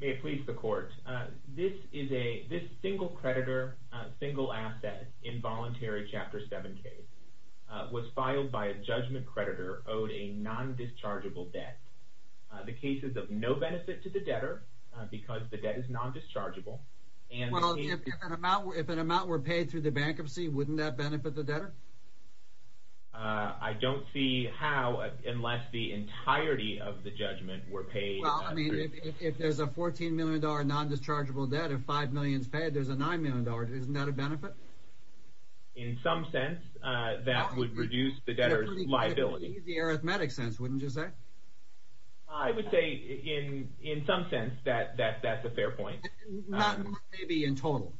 May it please the Court, this single creditor, single asset, involuntary Chapter 7 case was filed by a judgment creditor owed a non-dischargeable debt. The case is of no benefit to the debtor because the debt is non-dischargeable and the case Well, if an amount were paid through the bankruptcy, wouldn't that benefit the debtor? I don't see how, unless the entirety of the judgment were paid Well, I mean, if there's a $14 million non-dischargeable debt, if $5 million is paid, there's a $9 million, isn't that a benefit? In some sense, that would reduce the debtor's liability In a pretty easy arithmetic sense, wouldn't you say? I would say, in some sense, that that's a fair point Not maybe in total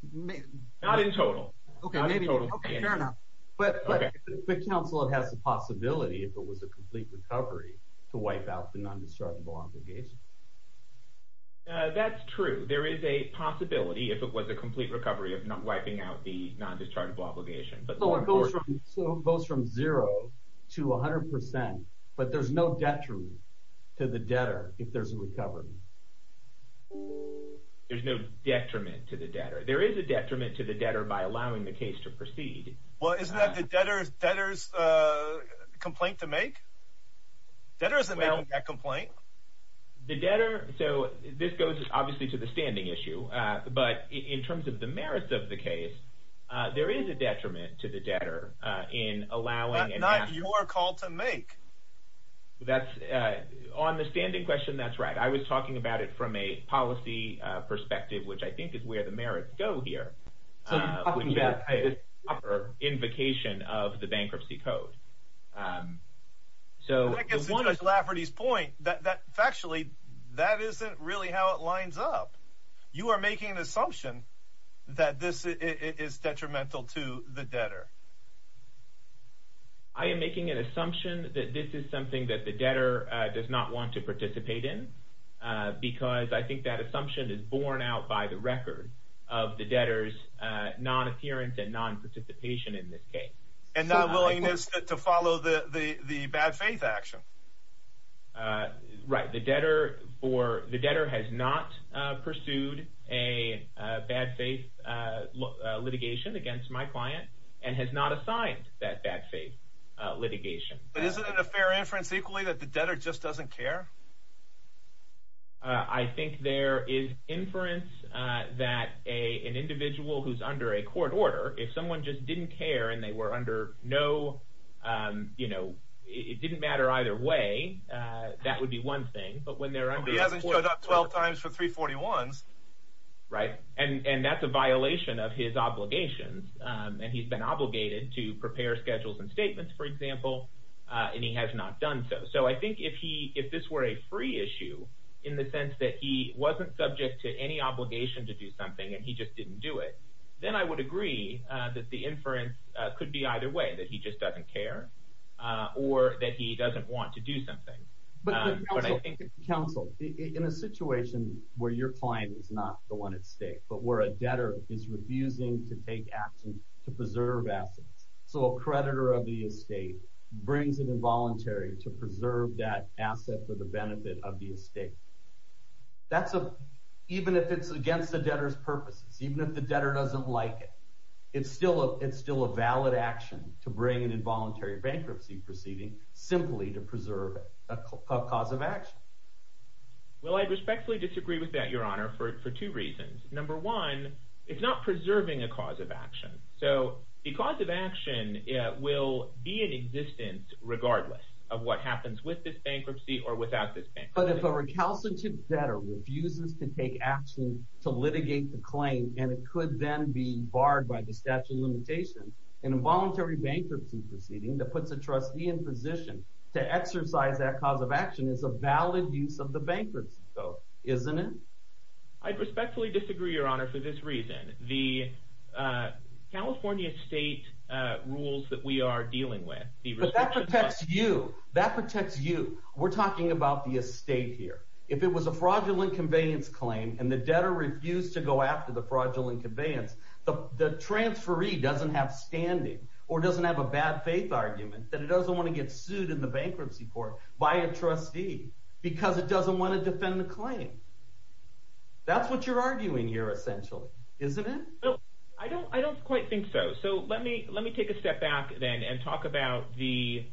Not in total Okay, maybe, okay, fair enough But, but, but counsel, it has the possibility, if it was a complete recovery, to wipe out the non-dischargeable obligation That's true, there is a possibility, if it was a complete recovery, of wiping out the non-dischargeable obligation So it goes from 0 to 100%, but there's no detriment to the debtor if there's a recovery There's no detriment to the debtor, there is a detriment to the debtor by allowing the case to proceed Well, isn't that the debtor's complaint to make? Debtor isn't making that complaint The debtor, so, this goes, obviously, to the standing issue But, in terms of the merits of the case, there is a detriment to the debtor in allowing Not your call to make That's, on the standing question, that's right I was talking about it from a policy perspective, which I think is where the merits go here It's a proper invocation of the Bankruptcy Code I guess, to Mr. Lafferty's point, factually, that isn't really how it lines up You are making an assumption that this is detrimental to the debtor I am making an assumption that this is something that the debtor does not want to participate in Because I think that assumption is borne out by the record of the debtor's non-appearance and non-participation in this case And not willingness to follow the bad faith action Right, the debtor has not pursued a bad faith litigation against my client And has not assigned that bad faith litigation But isn't it a fair inference, equally, that the debtor just doesn't care? I think there is inference that an individual who is under a court order If someone just didn't care and they were under no, you know, it didn't matter either way That would be one thing He hasn't showed up 12 times for 341s Right, and that's a violation of his obligations And he's been obligated to prepare schedules and statements, for example And he has not done so So I think if this were a free issue In the sense that he wasn't subject to any obligation to do something And he just didn't do it Then I would agree that the inference could be either way That he just doesn't care Or that he doesn't want to do something But counsel, in a situation where your client is not the one at stake But where a debtor is refusing to take action to preserve assets So a creditor of the estate brings an involuntary to preserve that asset For the benefit of the estate That's a... Even if it's against the debtor's purposes Even if the debtor doesn't like it It's still a valid action To bring an involuntary bankruptcy proceeding Simply to preserve a cause of action Well, I respectfully disagree with that, your honor For two reasons Number one, it's not preserving a cause of action So the cause of action will be in existence regardless Of what happens with this bankruptcy or without this bankruptcy But if a recalcitrant debtor refuses to take action To litigate the claim And it could then be barred by the statute of limitations An involuntary bankruptcy proceeding That puts a trustee in position To exercise that cause of action Is a valid use of the bankruptcy code Isn't it? I respectfully disagree, your honor, for this reason The California state rules that we are dealing with But that protects you We're talking about the estate here If it was a fraudulent conveyance claim And the debtor refused to go after the fraudulent conveyance The transferee doesn't have standing Or doesn't have a bad faith argument That it doesn't want to get sued in the bankruptcy court By a trustee Because it doesn't want to defend the claim That's what you're arguing here, essentially Isn't it? I don't quite think so So let me take a step back then And talk about the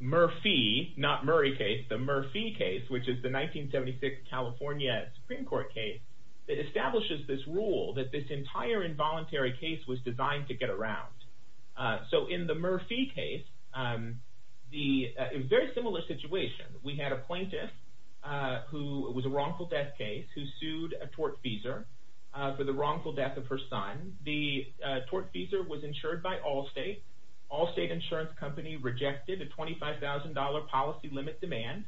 Murphy Not Murray case The Murphy case Which is the 1976 California Supreme Court case That establishes this rule That this entire involuntary case Was designed to get around So in the Murphy case In a very similar situation We had a plaintiff Who was a wrongful death case Who sued a tortfeasor For the wrongful death of her son The tortfeasor was insured by Allstate Allstate insurance company Rejected a $25,000 policy limit demand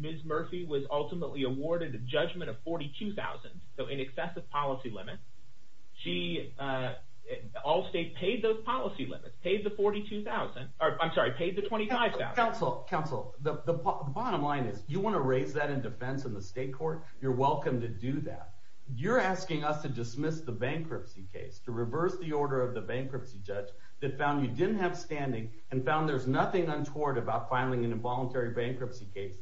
Ms. Murphy was ultimately Awarded a judgment of $42,000 So an excessive policy limit Allstate paid those policy limits Paid the $42,000 I'm sorry Paid the $25,000 Counsel The bottom line is You want to raise that in defense In the state court You're welcome to do that You're asking us to dismiss the bankruptcy case To reverse the order of the bankruptcy judge That found you didn't have standing And found there's nothing untoward About filing an involuntary bankruptcy case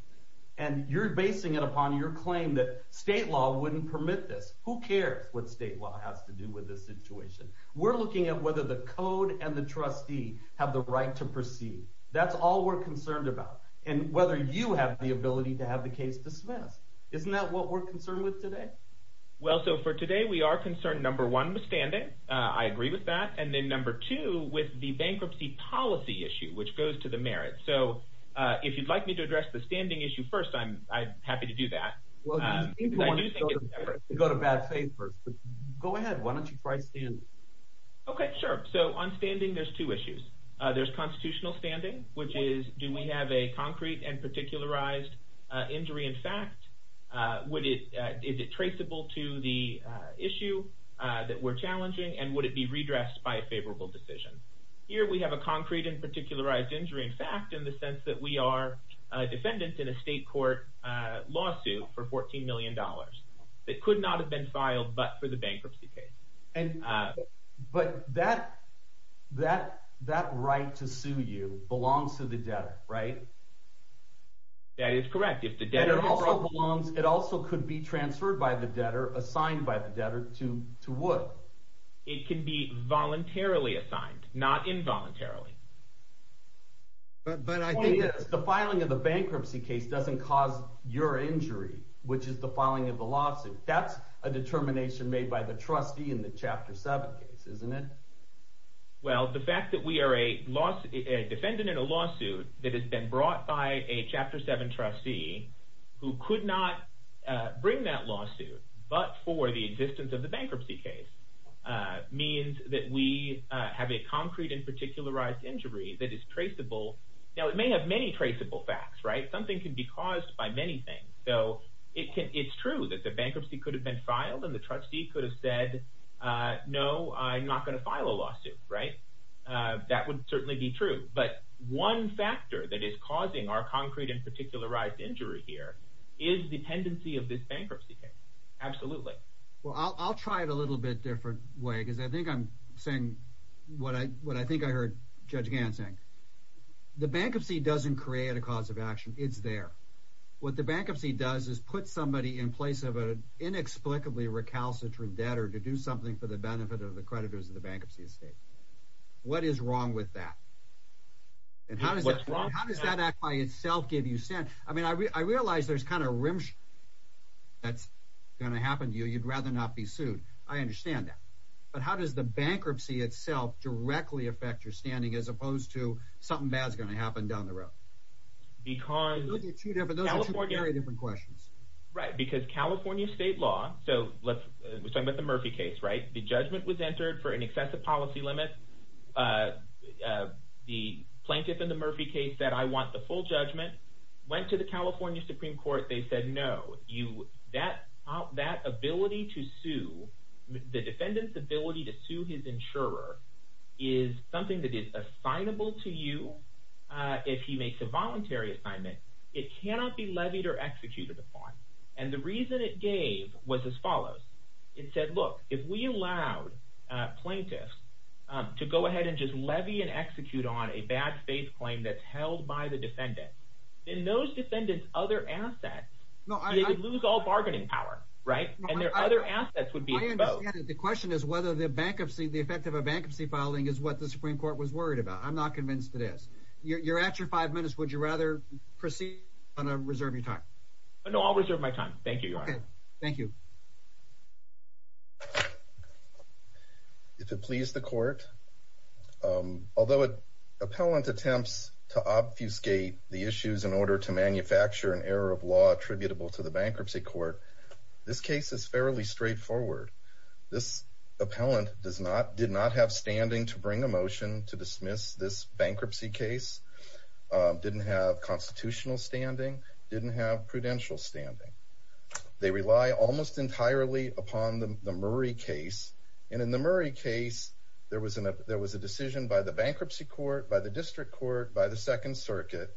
And you're basing it upon your claim That state law wouldn't permit this Who cares what state law has to do with this situation We're looking at whether the code And the trustee have the right to proceed That's all we're concerned about And whether you have the ability To have the case dismissed Isn't that what we're concerned with today Well so for today we are concerned Number one with standing I agree with that And then number two with the bankruptcy policy issue Which goes to the merits So if you'd like me to address the standing issue first I'm happy to do that Go to bad faith first Go ahead why don't you try standing Okay sure So on standing there's two issues There's constitutional standing Which is do we have a concrete and particularized Injury in fact Is it traceable To the issue That we're challenging And would it be redressed by a favorable decision Here we have a concrete and particularized Injury in fact in the sense that we are Defendant in a state court Lawsuit for $14 million That could not have been filed But for the bankruptcy case But that That right to sue you belongs to the debtor Right That is correct It also could be transferred by the debtor Assigned by the debtor To what It can be voluntarily assigned Not involuntarily But I think The filing of the bankruptcy case doesn't cause Your injury Which is the filing of the lawsuit That's a determination made by the trustee In the chapter 7 case isn't it Well the fact that we are a Defendant in a lawsuit That has been brought by a chapter 7 Trustee Who could not bring that lawsuit But for the existence of the bankruptcy Case Means that we have a concrete And particularized injury that is traceable Now it may have many traceable Facts right something can be caused by Many things so It's true that the bankruptcy could have been filed And the trustee could have said No I'm not going to file a lawsuit Right That would certainly be true But one factor that is causing our concrete And particularized injury here Is the tendency of this bankruptcy case Absolutely Well I'll try it a little bit different way Because I think I'm saying What I think I heard Judge Gant saying The bankruptcy doesn't create A cause of action it's there What the bankruptcy does is put somebody In place of an inexplicably Recalcitrant debtor to do something for the benefit Of the creditors of the bankruptcy estate What is wrong with that And how does that Act by itself give you I mean I realize there's kind of That's going to Happen to you you'd rather not be sued I understand that but how does the bankruptcy Itself directly affect Your standing as opposed to something bad Is going to happen down the road Because Those are two very different questions Right because California state law So we're talking about the Murphy case The judgment was entered for an excessive Policy limit The plaintiff in the Murphy Case said I want the full judgment Went to the California Supreme Court They said no That ability to sue The defendant's ability To sue his insurer Is something that is assignable To you if he makes A voluntary assignment it cannot Be levied or executed upon And the reason it gave was as follows It said look If we allowed plaintiffs To go ahead and just levy And execute on a bad faith claim That's held by the defendant Then those defendants other assets They would lose all bargaining power Right and their other assets Would be exposed The question is whether the bankruptcy The effect of a bankruptcy filing is what the Supreme Court Was worried about I'm not convinced it is You're at your five minutes would you rather Proceed or reserve your time No I'll reserve my time Thank you If it please the court Although Appellant attempts to Obfuscate the issues in order to Manufacture an error of law attributable To the bankruptcy court This case is fairly straight forward This appellant Did not have standing to bring a motion To dismiss this bankruptcy case Didn't have Constitutional standing Didn't have prudential standing They rely almost entirely Upon the Murray case And in the Murray case There was a decision by the bankruptcy court By the district court By the second circuit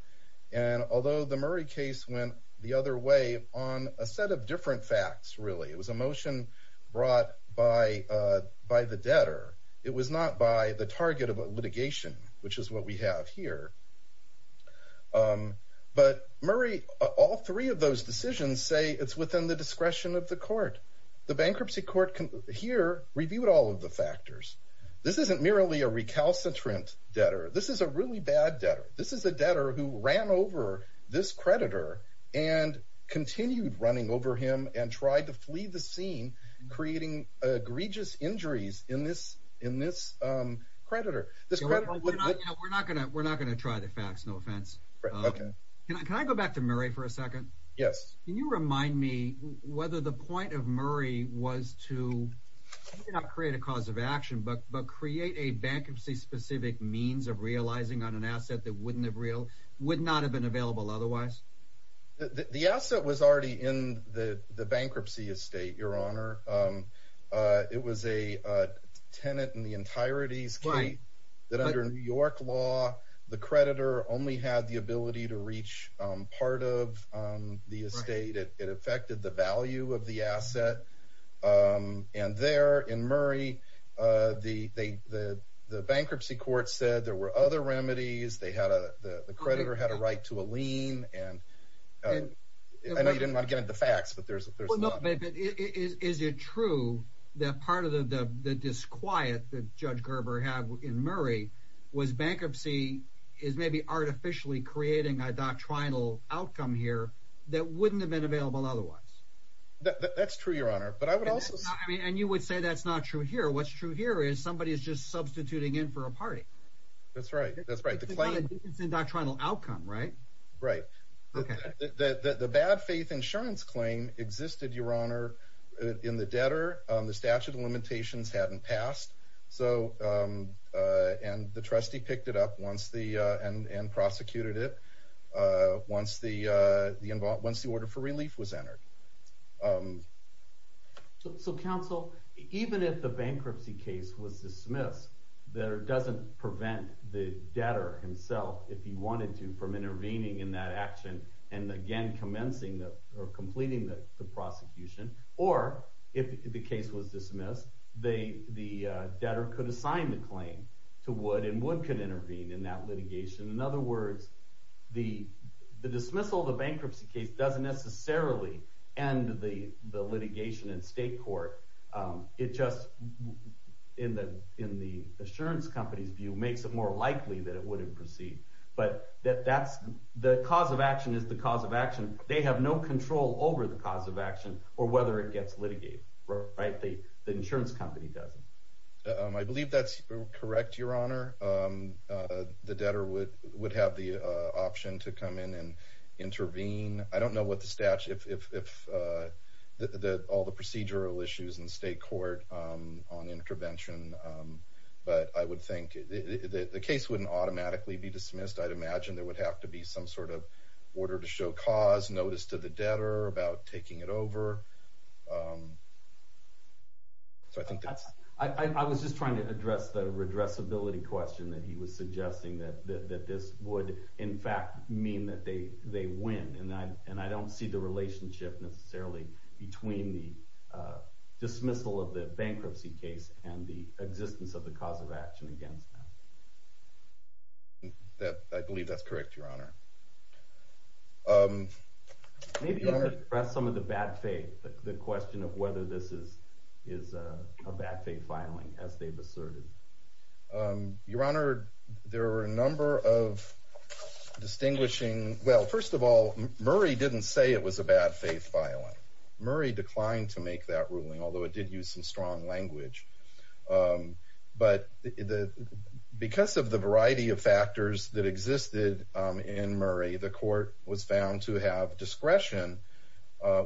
And although the Murray case went the other way On a set of different facts Really it was a motion brought By the debtor It was not by the target of a litigation Which is what we have here But Murray All three of those decisions say It's within the discretion of the court The bankruptcy court here Reviewed all of the factors This isn't merely a recalcitrant debtor This is a really bad debtor This is a debtor who ran over This creditor and Continued running over him And tried to flee the scene Creating egregious injuries In this creditor We're not going to try the facts No offense Can I go back to Murray for a second Can you remind me Whether the point of Murray was to Not create a cause of action But create a bankruptcy specific Means of realizing on an asset That would not have been Available otherwise The asset was already in The bankruptcy estate Your honor It was a tenant In the entirety That under New York law The creditor only had the ability To reach part of The estate It affected the value of the asset And there in Murray The bankruptcy court said There were other remedies The creditor had a right to a lien I know you didn't want to get Into the facts Is it true That part of the disquiet That Judge Gerber had in Murray Was bankruptcy Is maybe artificially creating A doctrinal outcome here That wouldn't have been available otherwise That's true your honor And you would say that's not true here What's true here is somebody is just Substituting in for a party That's right It's a doctrinal outcome right Right The bad faith insurance claim Existed your honor In the debtor The statute of limitations hadn't passed And the trustee Picked it up And prosecuted it Once the order for relief Was entered So counsel Even if the bankruptcy case Was dismissed The debtor doesn't prevent The debtor himself If he wanted to from intervening in that action And again Completing the prosecution Or if the case was Dismissed The debtor could assign the claim To Wood and Wood could intervene In that litigation In other words The dismissal of the bankruptcy case Doesn't necessarily end the litigation In state court It just In the insurance Company's view makes it more likely That it wouldn't proceed The cause of action is the cause of action They have no control over The cause of action or whether it gets Litigated The insurance company doesn't I believe that's correct your honor The debtor would Have the option to come in And intervene I don't know what the statute If All the procedural issues in state court On intervention But I would think The case wouldn't automatically be Dismissed I'd imagine there would have to be some Sort of order to show cause Notice to the debtor about taking it Over So I think that's I was just trying to address the Redressability question that he was Suggesting that this would In fact mean that they They win and I don't see the Relationship necessarily between The dismissal Of the bankruptcy case and the Existence of the cause of action against Them I believe that's correct your honor Maybe I could address some of the Bad faith the question of whether This is a Bad faith filing as they've asserted Your honor There were a number of Distinguishing well first of all Murray didn't say it was a bad faith Filing murray declined to Make that ruling although it did use some strong Language But the Because of the variety of factors that Existed in murray the Court was found to have discretion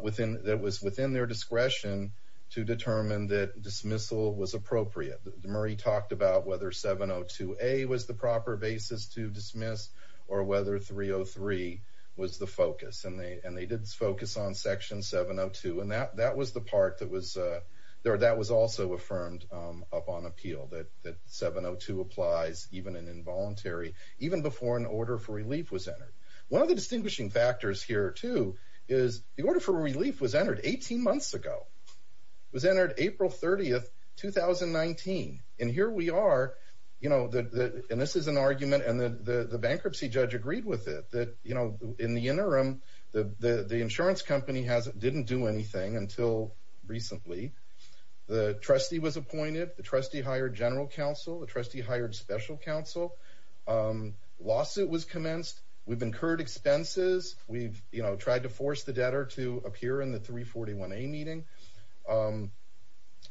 Within that was Within their discretion to Determine that dismissal was Appropriate murray talked about whether 702 a was the proper Basis to dismiss or whether 303 was the focus And they and they did focus on Section 702 and that that was The part that was there that was Also affirmed upon appeal That that 702 applies Even an involuntary even before An order for relief was entered one Of the distinguishing factors here too Is the order for relief was entered 18 months ago Was entered april 30th 2019 and here we are You know the and this is an argument And the the bankruptcy judge agreed With it that you know in the interim The the the insurance company Hasn't didn't do anything until Recently the trustee Was appointed the trustee hired general Counsel the trustee hired special Counsel It was commenced we've incurred expenses We've you know tried to force The debtor to appear in the 341 A meeting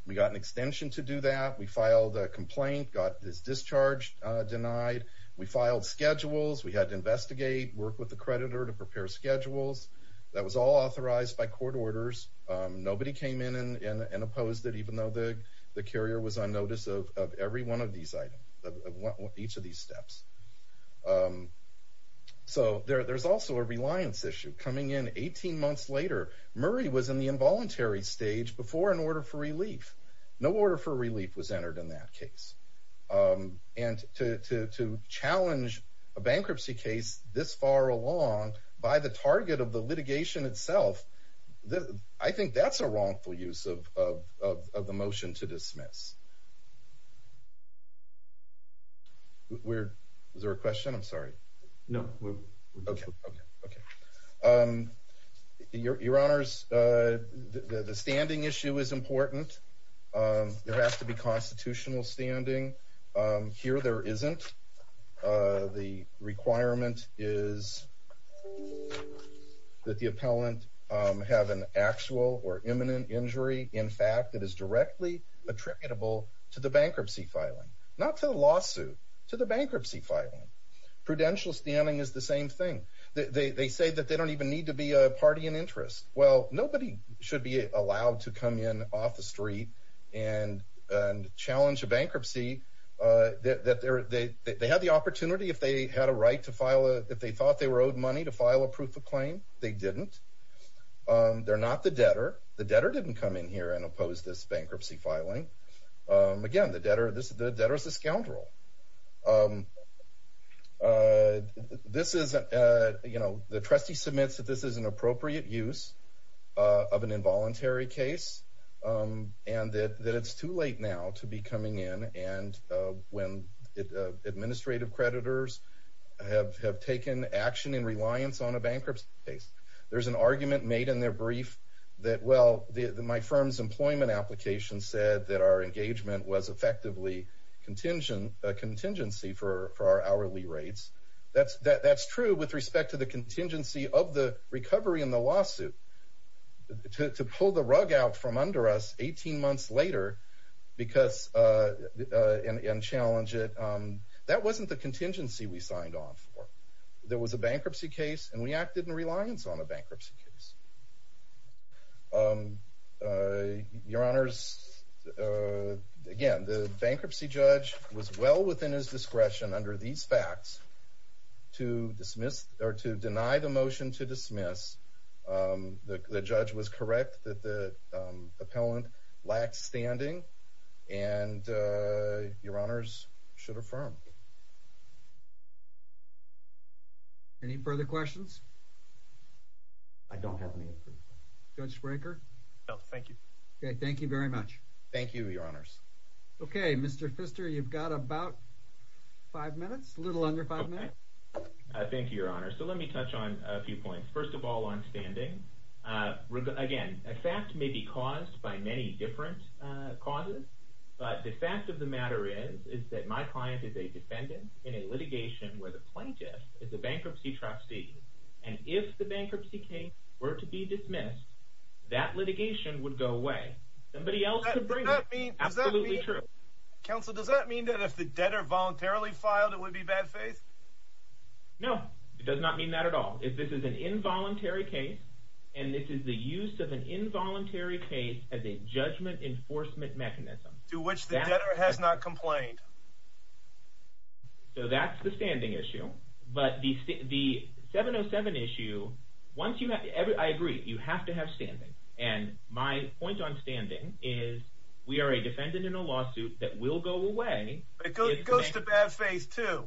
We got an extension to do that We filed a complaint got this Discharge denied we Filed schedules we had to investigate Work with the creditor to prepare Schedules that was all authorized By court orders nobody came In and opposed it even though the The carrier was on notice of Every one of these items Each of these steps So there there's Also a reliance issue coming in 18 months later murray was in The involuntary stage before an order For relief no order for relief Was entered in that case And to to to challenge A bankruptcy case This far along by the target Of the litigation itself The i think that's a wrongful Use of of of the motion To dismiss We're there a question i'm sorry No Okay Your your honors The standing issue Is important There has to be constitutional standing Here there isn't The requirement Is That the appellant Have an actual or imminent Injury in fact it is directly Attributable to the bankruptcy Filing not to the lawsuit To the bankruptcy filing Prudential standing is the same thing They they say that they don't even need To be a party in interest well Nobody should be allowed to come In off the street and And challenge a bankruptcy That that they're they they Have the opportunity if they had a right to File a if they thought they were owed money to file A proof of claim they didn't They're not the debtor The debtor didn't come in here and oppose this Bankruptcy filing again The debtor this is the debtor is a scoundrel This is You know the trustee Submits that this is an appropriate use Of an involuntary case And that That it's too late now to be coming in And when Administrative creditors Have have taken action in Reliance on a bankruptcy case There's an argument made in their brief That well my firm's Employment application said that our Engagement was effectively Contingency for Our hourly rates That's true with respect to the contingency Of the recovery in the lawsuit To pull the Rug out from under us 18 months Later because And challenge it That wasn't the contingency we Signed on for there was a bankruptcy Case and we acted in reliance on a Bankruptcy case Your honors Again the bankruptcy judge Was well within his discretion Under these facts To dismiss or to deny The motion to dismiss The judge was correct That the appellant Lacked standing and Your honors Should affirm Any further questions I don't have any Judge Spranker Thank you very much Thank you your honors Mr. Fister you've got about Five minutes a little under five minutes Thank you your honors Let me touch on a few points First of all on standing Again a fact may be caused by Many different causes But the fact of the matter is Is that my client is a defendant In a litigation where the plaintiff Is a bankruptcy trustee And if the bankruptcy case were to be Dismissed that litigation Would go away Does that mean Counsel does that mean that if the debtor Voluntarily filed it would be bad faith No it does not mean That at all if this is an involuntary Case and this is the use Of an involuntary case as a Judgment enforcement mechanism To which the debtor has not complained So that's the standing issue But the 707 issue Once you have I agree You have to have standing And my point on standing is We are a defendant in a lawsuit That will go away It goes to bad faith too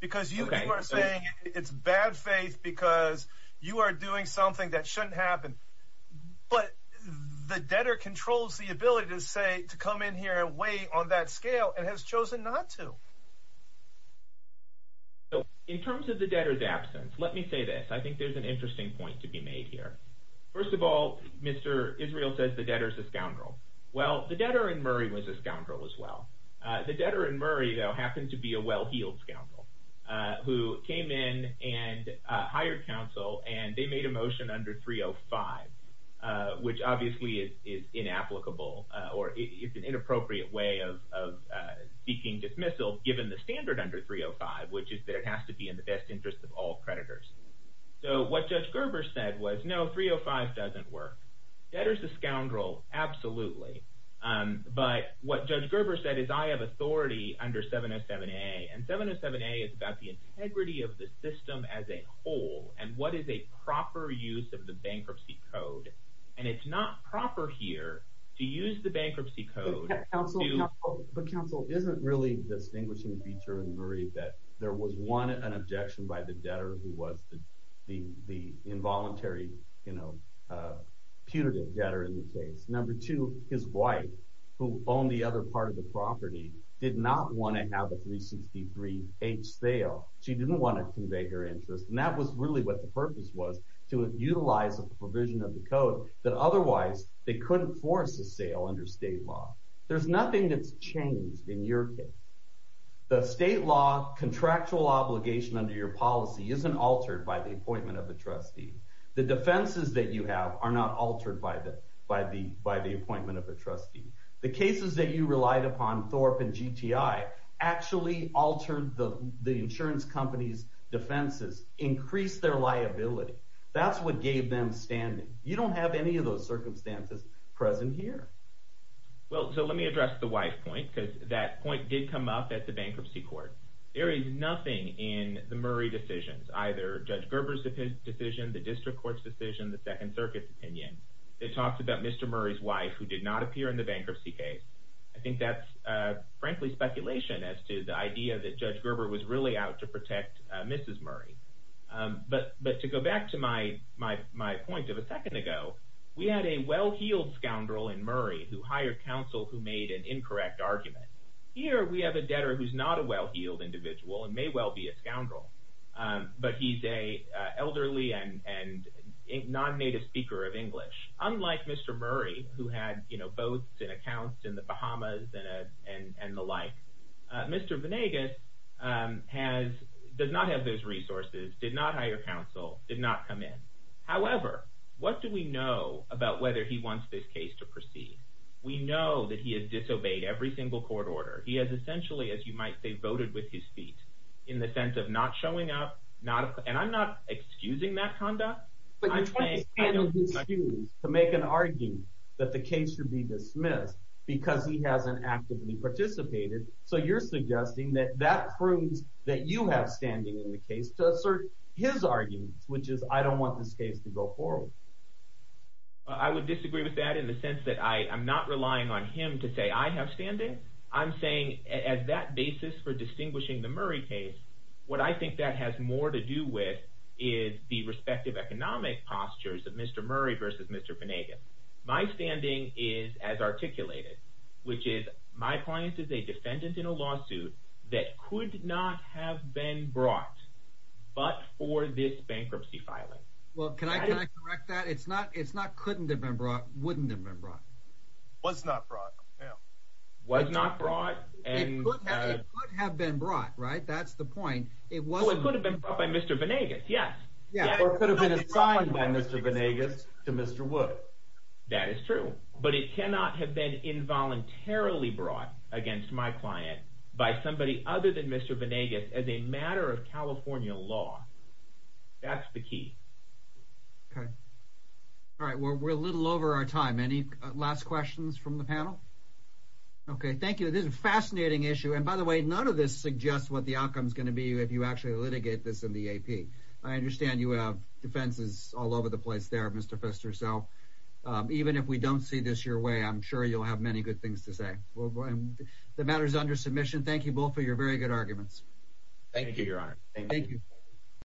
Because you are saying it's bad faith Because you are doing something That shouldn't happen But the debtor controls The ability to say to come in here And wait on that scale and has chosen Not to In terms of the debtor's absence Let me say this I think there's an interesting point to be made here First of all Mr. Israel says the debtor is a scoundrel Well the debtor in Murray was a scoundrel As well the debtor in Murray Happened to be a well-heeled scoundrel Who came in And hired counsel And they made a motion under 305 Which obviously is Inapplicable or An inappropriate way of Seeking dismissal given the standard Under 305 which is that it has to be In the best interest of all creditors So what Judge Gerber said was No 305 doesn't work Debtor's a scoundrel Absolutely But what Judge Gerber said is I have authority Under 707A And 707A is about the integrity of the system As a whole And what is a proper use of the bankruptcy code And it's not proper here To use the bankruptcy code Counsel Counsel But counsel isn't really Distinguishing feature in Murray that There was one, an objection by the debtor Who was the involuntary You know Putative debtor in the case Number two, his wife Who owned the other part of the property Did not want to have a 363H Sale She didn't want to convey her interest To utilize a provision of the code That otherwise they couldn't force a sale Under state law There's nothing that's changed in your case The state law Contractual obligation under your policy Isn't altered by the appointment of a trustee The defenses that you have Are not altered by the Appointment of a trustee The cases that you relied upon Thorpe and GTI Actually altered the insurance company's Defenses Increased their liability That's what gave them standing You don't have any of those circumstances Present here Well, so let me address the wife point That point did come up at the bankruptcy court There is nothing in The Murray decisions, either Judge Gerber's decision, the district court's Decision, the second circuit's opinion It talks about Mr. Murray's wife Who did not appear in the bankruptcy case I think that's frankly speculation As to the idea that Judge Gerber Was really out to protect Mrs. Murray But to go back To my point of a second ago We had a well-heeled Scoundrel in Murray who hired Counsel who made an incorrect argument Here we have a debtor who's not a well-heeled Individual and may well be a scoundrel But he's a Elderly and Non-native speaker of English Unlike Mr. Murray who had Boats and accounts in the Bahamas And the like Mr. Venegas Does not have those resources Did not hire counsel, did not come in However, what do we Know about whether he wants this case To proceed? We know that He has disobeyed every single court order He has essentially, as you might say, voted with His feet in the sense of not Showing up, and I'm not Excusing that conduct But you're trying to make an Argue that the case should be Dismissed because he hasn't Actively participated so you're Suggesting that that proves That you have standing in the case To assert his arguments, which is I don't want this case to go forward I would disagree with that In the sense that I'm not relying on Him to say I have standing I'm saying at that basis for Distinguishing the Murray case What I think that has more to do with Is the respective economic Postures of Mr. Murray versus Mr. Venegas. My standing is As articulated, which is My client is a defendant in a Case that could not have been brought But for this bankruptcy filing Well, can I correct that? It's not couldn't have been brought Wouldn't have been brought Was not brought Was not brought It could have been brought, right? That's the point It could have been brought by Mr. Venegas, yes Or could have been assigned by Mr. Venegas To Mr. Wood That is true, but it cannot have been Involuntarily brought against My client by somebody Other than Mr. Venegas as a matter Of California law That's the key Okay, all right We're a little over our time Any last questions from the panel? Okay, thank you. This is a fascinating issue And by the way, none of this suggests What the outcome is going to be if you actually litigate This in the AP. I understand you have Defenses all over the place there Mr. Pfister, so Even if we don't see this your way, I'm sure You'll have many good things to say The matter is under submission. Thank you both For your very good arguments Thank you, your honor